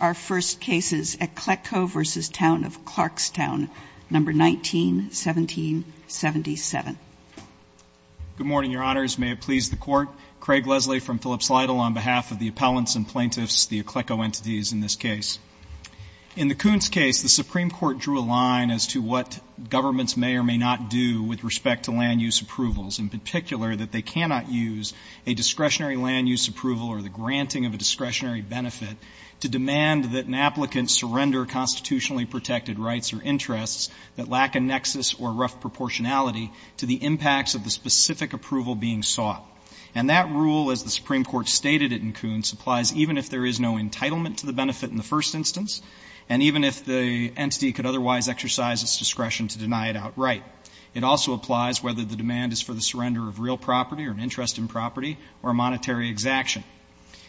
Our first case is EklecCo v. Town of Clarkstown, No. 19-17-77. Good morning, Your Honors. May it please the Court. Craig Leslie from Phillips-Leidel on behalf of the appellants and plaintiffs, the EklecCo entities in this case. In the Coons case, the Supreme Court drew a line as to what governments may or may not do with respect to land use approvals. In particular, that they cannot use a discretionary land use approval or the granting of a discretionary benefit to demand that an applicant surrender constitutionally protected rights or interests that lack a nexus or rough proportionality to the impacts of the specific approval being sought. And that rule, as the Supreme Court stated it in Coons, applies even if there is no entitlement to the benefit in the first instance and even if the entity could otherwise exercise its discretion to deny it outright. It also applies whether the demand is for the surrender of real property or an interest in property or monetary exaction.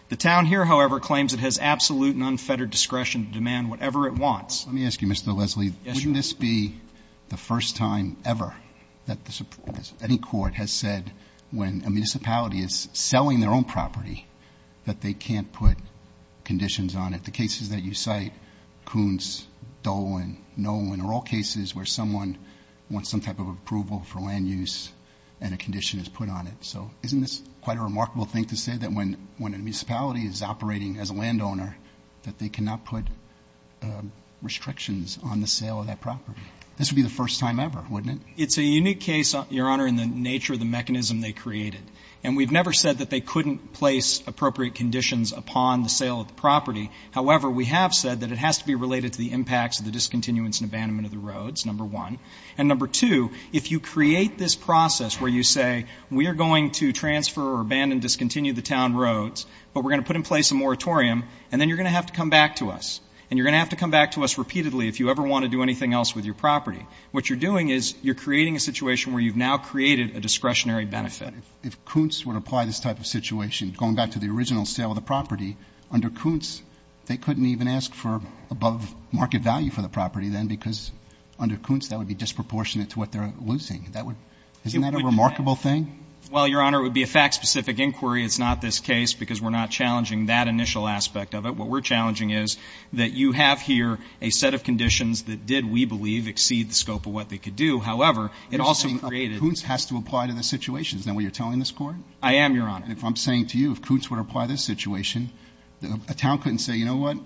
The town here, however, claims it has absolute and unfettered discretion to demand whatever it wants. Let me ask you, Mr. Leslie. Yes, Your Honor. Wouldn't this be the first time ever that any court has said when a municipality is selling their own property that they can't put conditions on it? The cases that you cite, Coons, Dolan, Nolan, are all cases where someone wants some type of approval for land use and a condition is put on it. So isn't this quite a remarkable thing to say that when a municipality is operating as a landowner that they cannot put restrictions on the sale of that property? This would be the first time ever, wouldn't it? It's a unique case, Your Honor, in the nature of the mechanism they created. And we've never said that they couldn't place appropriate conditions upon the sale of the property. However, we have said that it has to be related to the impacts of the discontinuance and abandonment of the roads, number one. And number two, if you create this process where you say, we are going to transfer or abandon, discontinue the town roads, but we're going to put in place a moratorium, and then you're going to have to come back to us. And you're going to have to come back to us repeatedly if you ever want to do anything else with your property. What you're doing is you're creating a situation where you've now created a discretionary benefit. If Coons would apply this type of situation, going back to the original sale of the property, under Coons they couldn't even ask for above market value for the property then because under Coons that would be disproportionate to what they're losing. Isn't that a remarkable thing? Well, Your Honor, it would be a fact-specific inquiry. It's not this case because we're not challenging that initial aspect of it. What we're challenging is that you have here a set of conditions that did, we believe, exceed the scope of what they could do. However, it also created – You're saying Coons has to apply to this situation. Is that what you're telling this Court? I am, Your Honor. And if I'm saying to you if Coons would apply this situation, a town couldn't say, you know what,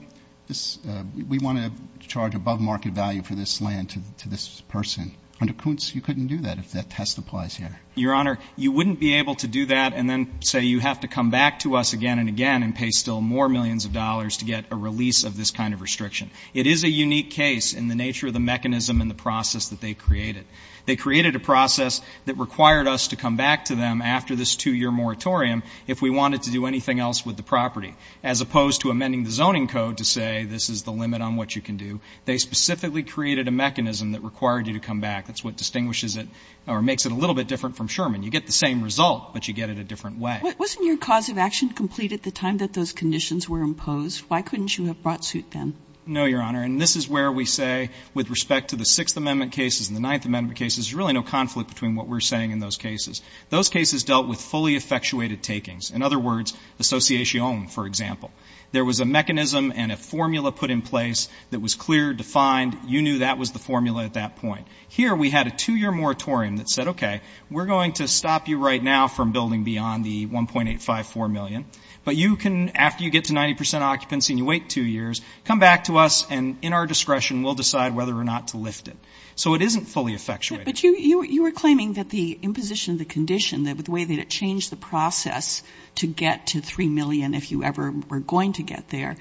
we want to charge above market value for this land to this person. Under Coons you couldn't do that if that test applies here. Your Honor, you wouldn't be able to do that and then say you have to come back to us again and again and pay still more millions of dollars to get a release of this kind of restriction. It is a unique case in the nature of the mechanism and the process that they created. They created a process that required us to come back to them after this two-year moratorium if we wanted to do anything else with the property, as opposed to amending the zoning code to say this is the limit on what you can do. They specifically created a mechanism that required you to come back. That's what distinguishes it or makes it a little bit different from Sherman. You get the same result, but you get it a different way. Wasn't your cause of action complete at the time that those conditions were imposed? Why couldn't you have brought suit then? No, Your Honor. And this is where we say with respect to the Sixth Amendment cases and the Ninth Amendment cases, there's really no conflict between what we're saying in those cases. Those cases dealt with fully effectuated takings. In other words, association home, for example. There was a mechanism and a formula put in place that was clear, defined. You knew that was the formula at that point. Here we had a two-year moratorium that said, okay, we're going to stop you right now from building beyond the 1.854 million, but you can, after you get to 90 percent occupancy and you wait two years, come back to us and in our discretion we'll decide whether or not to lift it. So it isn't fully effectuated. But you were claiming that the imposition of the condition, the way that it changed the process to get to 3 million, if you ever were going to get there,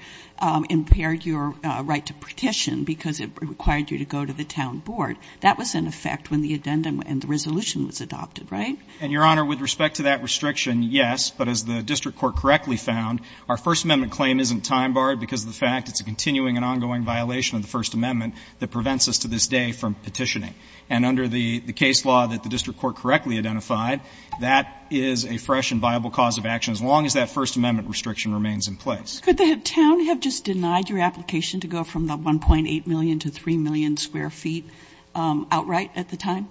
impaired your right to petition because it required you to go to the town board. That was in effect when the addendum and the resolution was adopted, right? And, Your Honor, with respect to that restriction, yes. But as the district court correctly found, our First Amendment claim isn't time-barred because of the fact it's a continuing and ongoing violation of the First Amendment that prevents us to this day from petitioning. And under the case law that the district court correctly identified, that is a fresh and viable cause of action as long as that First Amendment restriction remains in place. Could the town have just denied your application to go from the 1.8 million to 3 million square feet outright at the time?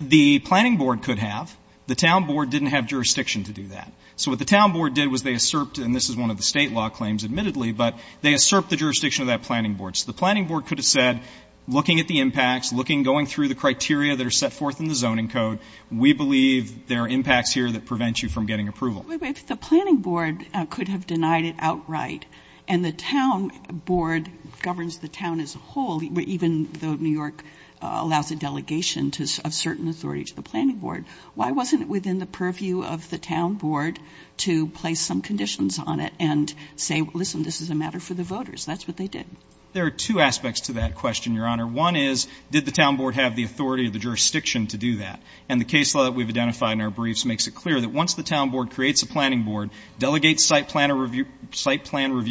The planning board could have. The town board didn't have jurisdiction to do that. So what the town board did was they usurped, and this is one of the State law claims, admittedly, but they usurped the jurisdiction of that planning board. So the planning board could have said, looking at the impacts, looking, going through the criteria that are set forth in the zoning code, we believe there are impacts here that prevent you from getting approval. But if the planning board could have denied it outright, and the town board governs the town as a whole, even though New York allows a delegation of certain authority to the planning board, why wasn't it within the purview of the town board to place some conditions on it and say, listen, this is a matter for the voters? That's what they did. There are two aspects to that question, Your Honor. One is, did the town board have the authority or the jurisdiction to do that? And the case law that we've identified in our briefs makes it clear that once the town board creates a planning board, delegates site plan review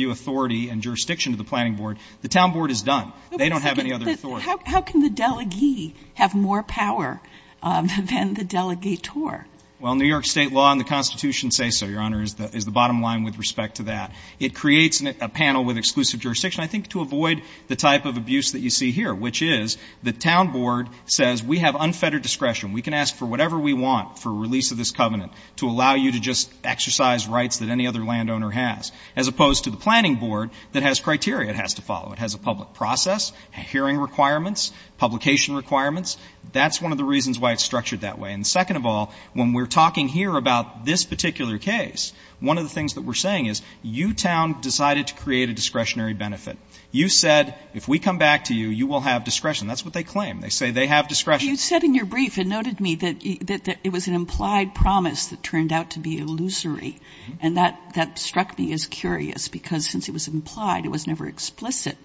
authority and jurisdiction to the planning board, the town board is done. They don't have any other authority. How can the delegee have more power than the delegator? Well, New York State law and the Constitution say so, Your Honor, is the bottom line with respect to that. It creates a panel with exclusive jurisdiction, I think to avoid the type of abuse that you see here, which is the town board says we have unfettered discretion. We can ask for whatever we want for release of this covenant to allow you to just exercise rights that any other landowner has, as opposed to the planning board that has criteria it has to follow. It has a public process, hearing requirements, publication requirements. That's one of the reasons why it's structured that way. And second of all, when we're talking here about this particular case, one of the things you're saying is you town decided to create a discretionary benefit. You said if we come back to you, you will have discretion. That's what they claim. They say they have discretion. You said in your brief and noted me that it was an implied promise that turned out to be illusory. And that struck me as curious, because since it was implied, it was never explicit.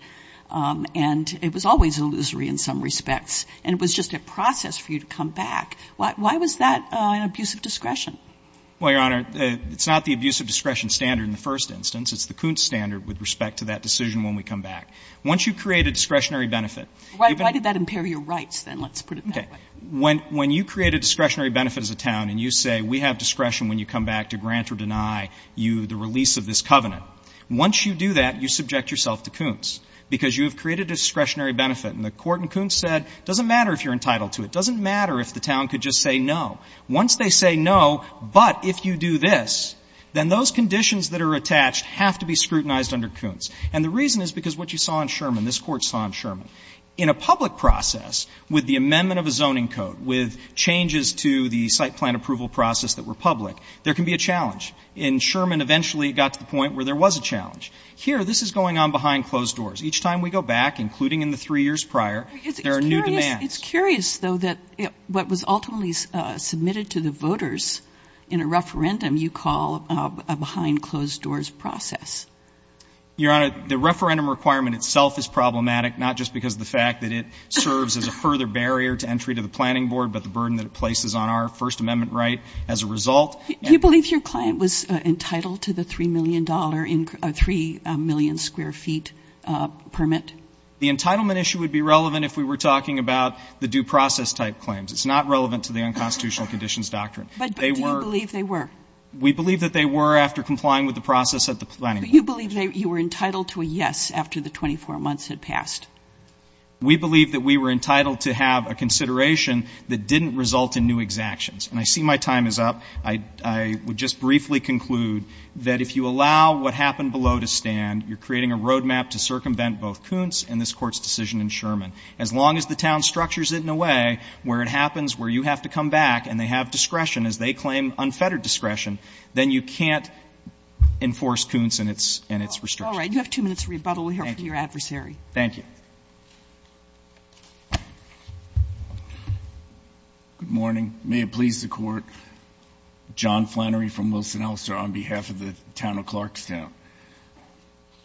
And it was always illusory in some respects. And it was just a process for you to come back. Why was that an abuse of discretion? Well, Your Honor, it's not the abuse of discretion standard in the first instance. It's the Kuntz standard with respect to that decision when we come back. Once you create a discretionary benefit. Why did that impair your rights, then? Let's put it that way. Okay. When you create a discretionary benefit as a town and you say we have discretion when you come back to grant or deny you the release of this covenant, once you do that, you subject yourself to Kuntz, because you have created a discretionary benefit. And the court in Kuntz said it doesn't matter if you're entitled to it. It doesn't matter if the town could just say no. Once they say no, but if you do this, then those conditions that are attached have to be scrutinized under Kuntz. And the reason is because what you saw in Sherman, this Court saw in Sherman, in a public process with the amendment of a zoning code, with changes to the site plan approval process that were public, there can be a challenge. And Sherman eventually got to the point where there was a challenge. Here, this is going on behind closed doors. Each time we go back, including in the three years prior, there are new demands. It's curious, though, that what was ultimately submitted to the voters in a referendum you call a behind closed doors process. Your Honor, the referendum requirement itself is problematic, not just because of the fact that it serves as a further barrier to entry to the planning board, but the burden that it places on our First Amendment right as a result. Do you believe your client was entitled to the $3 million, $3 million square feet permit? The entitlement issue would be relevant if we were talking about the due process type claims. It's not relevant to the unconstitutional conditions doctrine. But do you believe they were? We believe that they were after complying with the process at the planning board. But you believe you were entitled to a yes after the 24 months had passed? We believe that we were entitled to have a consideration that didn't result in new exactions. And I see my time is up. I would just briefly conclude that if you allow what happened below to stand, you're and this Court's decision in Sherman. As long as the town structures it in a way where it happens where you have to come back and they have discretion as they claim unfettered discretion, then you can't enforce Kuntz and its restrictions. All right. You have two minutes rebuttal here for your adversary. Thank you. Good morning. May it please the Court. John Flannery from Wilson-Elster on behalf of the town of Clarkstown.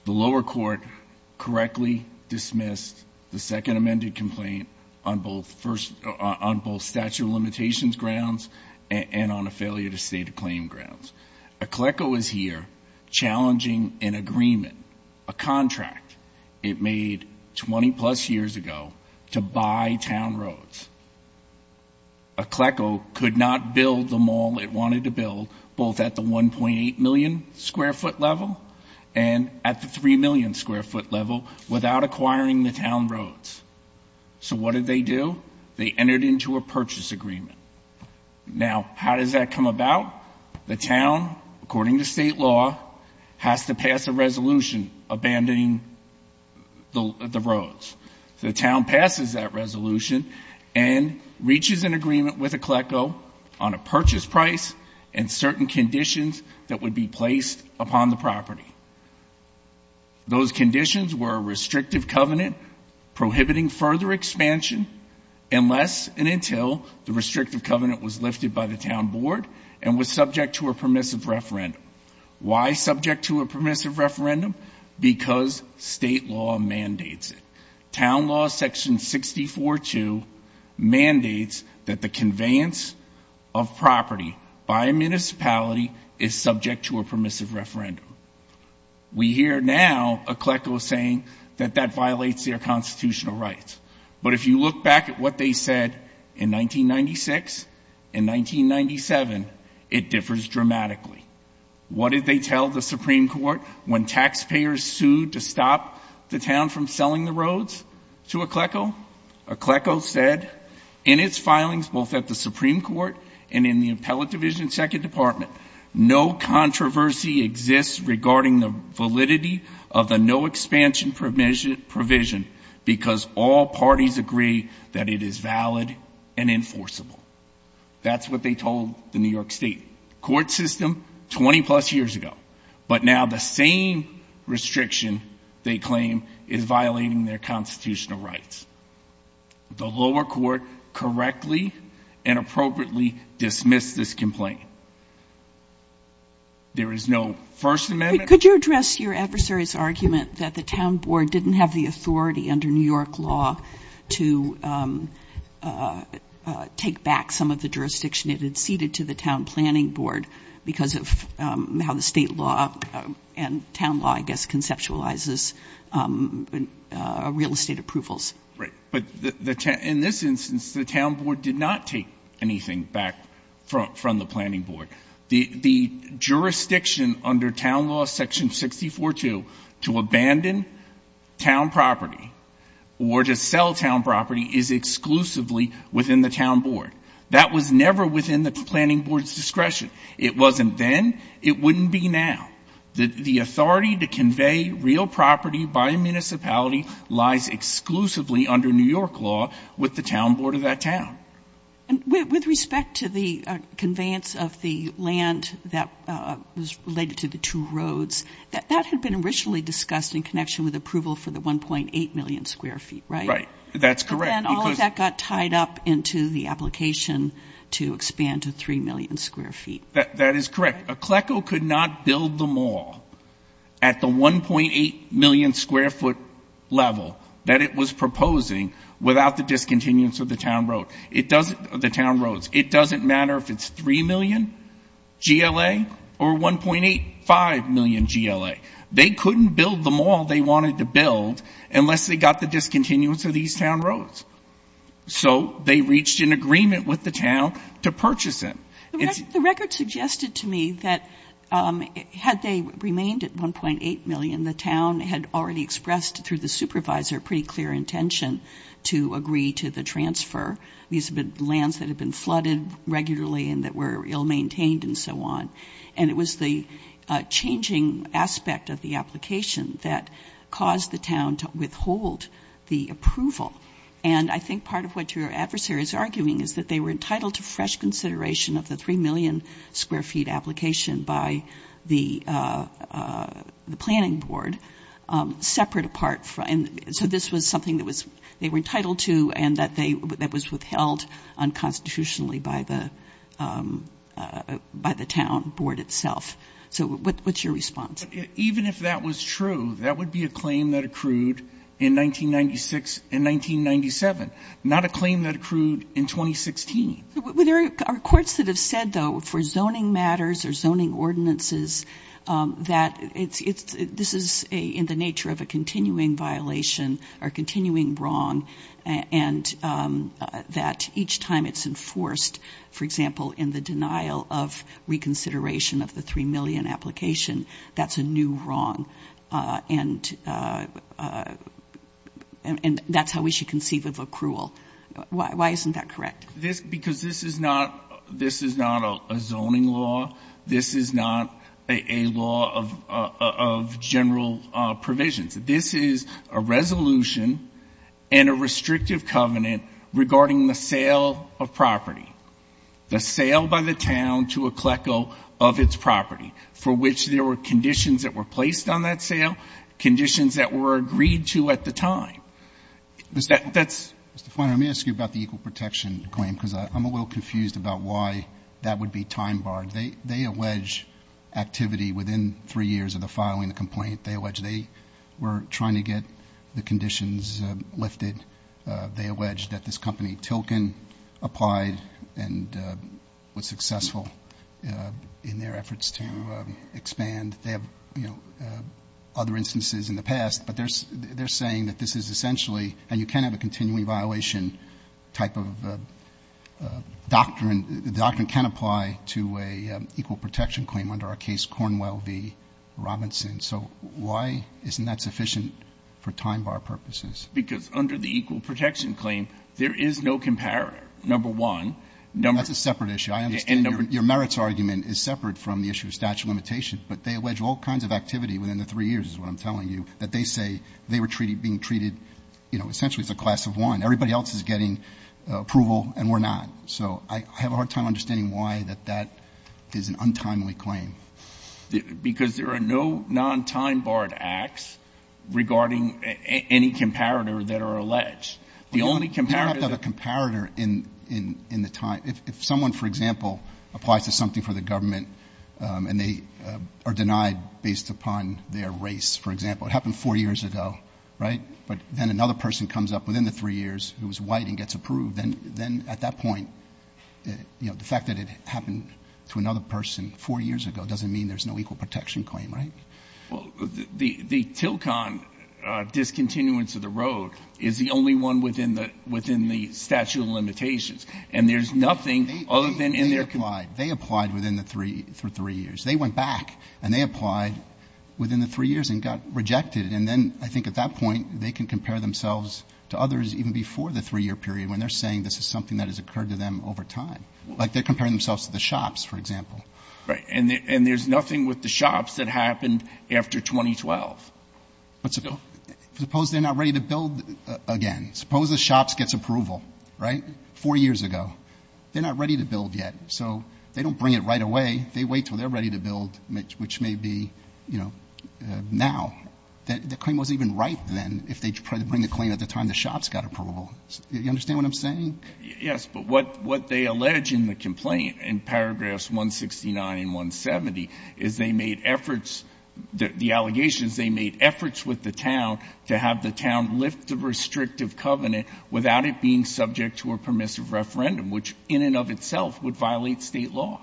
The lower court correctly dismissed the second amended complaint on both statute of limitations grounds and on a failure to state a claim grounds. A CLECO is here challenging an agreement, a contract it made 20 plus years ago to buy town roads. A CLECO could not build the mall it wanted to build both at the 1.8 million square foot level and at the 3 million square foot level without acquiring the town roads. So what did they do? They entered into a purchase agreement. Now, how does that come about? The town, according to state law, has to pass a resolution abandoning the roads. The town passes that resolution and reaches an agreement with a CLECO on a purchase price and certain conditions that would be placed upon the property. Those conditions were a restrictive covenant prohibiting further expansion unless and until the restrictive covenant was lifted by the town board and was subject to a permissive referendum. Why subject to a permissive referendum? Because state law mandates it. Town law section 64-2 mandates that the conveyance of property by a municipality is subject to a permissive referendum. We hear now a CLECO saying that that violates their constitutional rights. But if you look back at what they said in 1996 and 1997, it differs dramatically. What did they tell the Supreme Court when taxpayers sued to stop the town from selling the roads to a CLECO? A CLECO said in its filings both at the Supreme Court and in the Appellate Division Second Department, no controversy exists regarding the validity of the no expansion provision because all parties agree that it is valid and enforceable. That's what they told the New York State court system. 20 plus years ago. But now the same restriction they claim is violating their constitutional rights. The lower court correctly and appropriately dismissed this complaint. There is no First Amendment. Could you address your adversary's argument that the town board didn't have the authority under New York law to take back some of the jurisdiction it had ceded to the town planning board because of how the state law and town law, I guess, conceptualizes real estate approvals? Right. But in this instance, the town board did not take anything back from the planning board. The jurisdiction under town law section 64-2 to abandon town property or to sell town property is exclusively within the town board. That was never within the planning board's discretion. It wasn't then. It wouldn't be now. The authority to convey real property by a municipality lies exclusively under New York law with the town board of that town. And with respect to the conveyance of the land that was related to the two roads, that had been originally discussed in connection with approval for the 1.8 million square feet, right? Right. That's correct. And then all of that got tied up into the application to expand to 3 million square feet. That is correct. CLECO could not build them all at the 1.8 million square foot level that it was proposing without the discontinuance of the town roads. It doesn't matter if it's 3 million GLA or 1.85 million GLA. They couldn't build them all they wanted to build unless they got the discontinuance of these town roads. So they reached an agreement with the town to purchase them. The record suggested to me that had they remained at 1.8 million, the town had already expressed through the supervisor a pretty clear intention to agree to the transfer. These have been lands that have been flooded regularly and that were ill-maintained and so on. And it was the changing aspect of the application that caused the town to withhold the approval. And I think part of what your adversary is arguing is that they were entitled to fresh consideration of the 3 million square feet application by the planning board separate apart. So this was something that they were entitled to and that was withheld unconstitutionally by the town. So what's your response? Even if that was true, that would be a claim that accrued in 1996 and 1997, not a claim that accrued in 2016. There are courts that have said, though, for zoning matters or zoning ordinances, that this is in the nature of a continuing violation or continuing wrong and that each time it's enforced, for example, in the denial of reconsideration of the 3 million application, that's a new wrong. And that's how we should conceive of accrual. Why isn't that correct? Because this is not a zoning law. This is not a law of general provisions. This is a resolution and a restrictive covenant regarding the sale of property, the sale by the town to a CLECO of its property for which there were conditions that were placed on that sale, conditions that were agreed to at the time. That's the point. Let me ask you about the equal protection claim because I'm a little confused about why that would be time barred. They allege activity within three years of the filing of the complaint. They allege they were trying to get the conditions lifted. They allege that this company, Tilken, applied and was successful in their efforts to expand. They have, you know, other instances in the past, but they're saying that this is essentially and you can have a continuing violation type of doctrine. The doctrine can apply to an equal protection claim under our case, Cornwell v. Robinson. So why isn't that sufficient for time bar purposes? Because under the equal protection claim, there is no comparator, number one. That's a separate issue. I understand your merits argument is separate from the issue of statute of limitation, but they allege all kinds of activity within the three years is what I'm telling you, that they say they were being treated, you know, essentially as a class of one. Everybody else is getting approval and we're not. So I have a hard time understanding why that that is an untimely claim. Because there are no non-time barred acts regarding any comparator that are alleged. The only comparator. You don't have to have a comparator in the time. If someone, for example, applies to something for the government and they are denied based upon their race, for example. It happened four years ago, right? But then another person comes up within the three years who is white and gets approved. Then at that point, you know, the fact that it happened to another person four years ago doesn't mean there's no equal protection claim, right? Well, the TILCON discontinuance of the road is the only one within the statute of limitations, and there's nothing other than in there. They applied. They applied within the three years. They went back and they applied within the three years and got rejected. And then I think at that point they can compare themselves to others even before the three-year period when they're saying this is something that has occurred to them over time. Like they're comparing themselves to the shops, for example. Right. And there's nothing with the shops that happened after 2012. Suppose they're not ready to build again. Suppose the shops gets approval, right, four years ago. They're not ready to build yet. So they don't bring it right away. They wait until they're ready to build, which may be, you know, now. The claim wasn't even right then if they'd bring the claim at the time the shops got approval. You understand what I'm saying? Yes. But what they allege in the complaint in paragraphs 169 and 170 is they made efforts, the allegations they made efforts with the town to have the town lift the restrictive covenant without it being subject to a permissive referendum, which in and of itself would violate State law.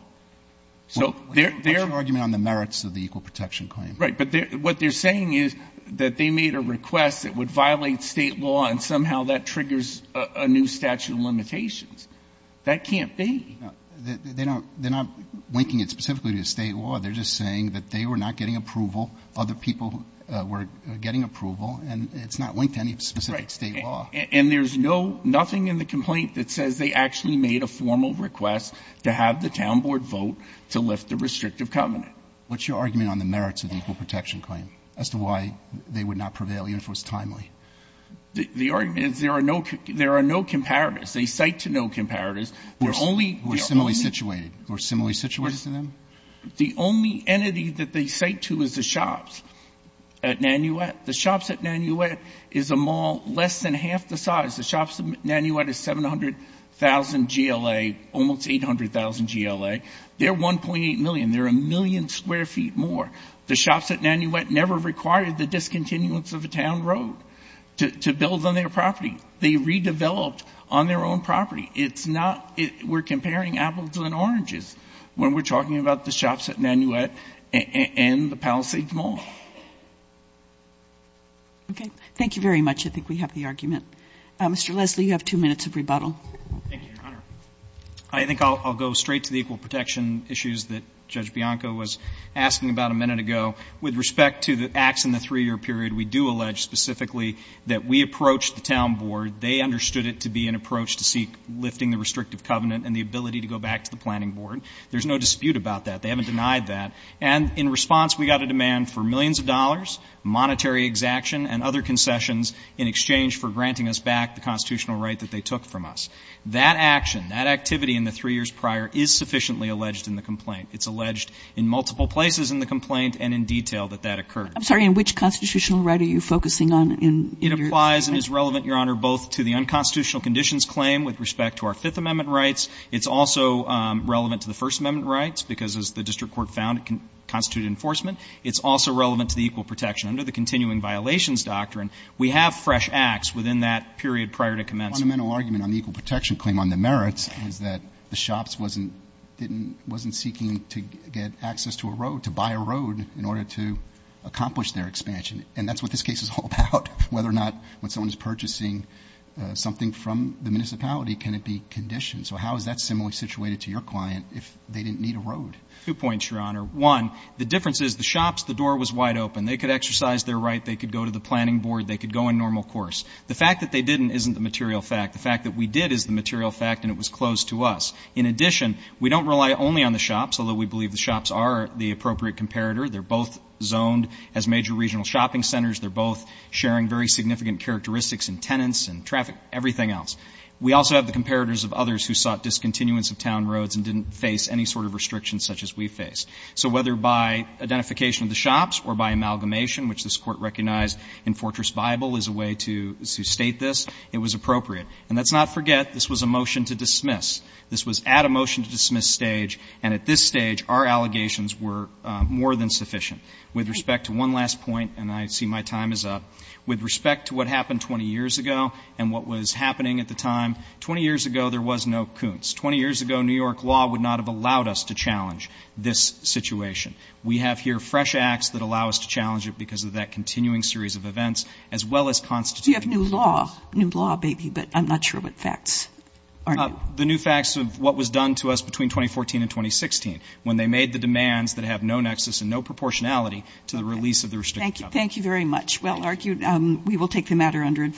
So they're — What's your argument on the merits of the equal protection claim? Right. But what they're saying is that they made a request that would violate State law and somehow that triggers a new statute of limitations. That can't be. They're not linking it specifically to State law. They're just saying that they were not getting approval. Other people were getting approval. And it's not linked to any specific State law. Right. And there's nothing in the complaint that says they actually made a formal request to have the town board vote to lift the restrictive covenant. What's your argument on the merits of the equal protection claim as to why they would not prevail even if it was timely? The argument is there are no comparatives. They cite to no comparatives. Who are similarly situated. Who are similarly situated to them? The only entity that they cite to is the shops at Nanuet. The shops at Nanuet is a mall less than half the size. The shops at Nanuet is 700,000 GLA, almost 800,000 GLA. They're 1.8 million. They're a million square feet more. The shops at Nanuet never required the discontinuance of a town road to build on their property. They redeveloped on their own property. It's not we're comparing apples and oranges when we're talking about the shops at Nanuet and the Palisades Mall. Okay. Thank you very much. I think we have the argument. Mr. Leslie, you have two minutes of rebuttal. Thank you, Your Honor. I think I'll go straight to the equal protection issues that Judge Bianco was asking about a minute ago. With respect to the acts in the three-year period, we do allege specifically that we approached the town board. They understood it to be an approach to seek lifting the restrictive covenant and the ability to go back to the planning board. There's no dispute about that. They haven't denied that. And in response, we got a demand for millions of dollars, monetary exaction and other concessions in exchange for granting us back the constitutional right that they took from us. That action, that activity in the three years prior is sufficiently alleged in the complaint. It's alleged in multiple places in the complaint and in detail that that occurred. I'm sorry. In which constitutional right are you focusing on? It applies and is relevant, Your Honor, both to the unconstitutional conditions claim with respect to our Fifth Amendment rights. It's also relevant to the First Amendment rights because, as the district court found, it constituted enforcement. It's also relevant to the equal protection. Under the continuing violations doctrine, we have fresh acts within that period prior to commencement. The fundamental argument on the equal protection claim on the merits is that the shops wasn't seeking to get access to a road, to buy a road in order to accomplish their expansion, and that's what this case is all about, whether or not when someone is purchasing something from the municipality, can it be conditioned. So how is that similarly situated to your client if they didn't need a road? Two points, Your Honor. One, the difference is the shops, the door was wide open. They could exercise their right. They could go to the planning board. They could go in normal course. The fact that they didn't isn't the material fact. The fact that we did is the material fact and it was closed to us. In addition, we don't rely only on the shops, although we believe the shops are the appropriate comparator. They're both zoned as major regional shopping centers. They're both sharing very significant characteristics in tenants and traffic, everything else. We also have the comparators of others who sought discontinuance of town roads and didn't face any sort of restrictions such as we face. So whether by identification of the shops or by amalgamation, which this Court recognized in Fortress Bible as a way to state this, it was appropriate. And let's not forget this was a motion to dismiss. This was at a motion to dismiss stage, and at this stage our allegations were more than sufficient. With respect to one last point, and I see my time is up, with respect to what happened 20 years ago and what was happening at the time, 20 years ago there was no Kuntz. 20 years ago New York law would not have allowed us to challenge this situation. We have here fresh acts that allow us to challenge it because of that continuing series of events, as well as constituting You have new law, new law, baby, but I'm not sure what facts are new. The new facts of what was done to us between 2014 and 2016 when they made the demands that have no nexus and no proportionality to the release of the restricted coverage. Thank you very much. Well argued. We will take the matter under advice.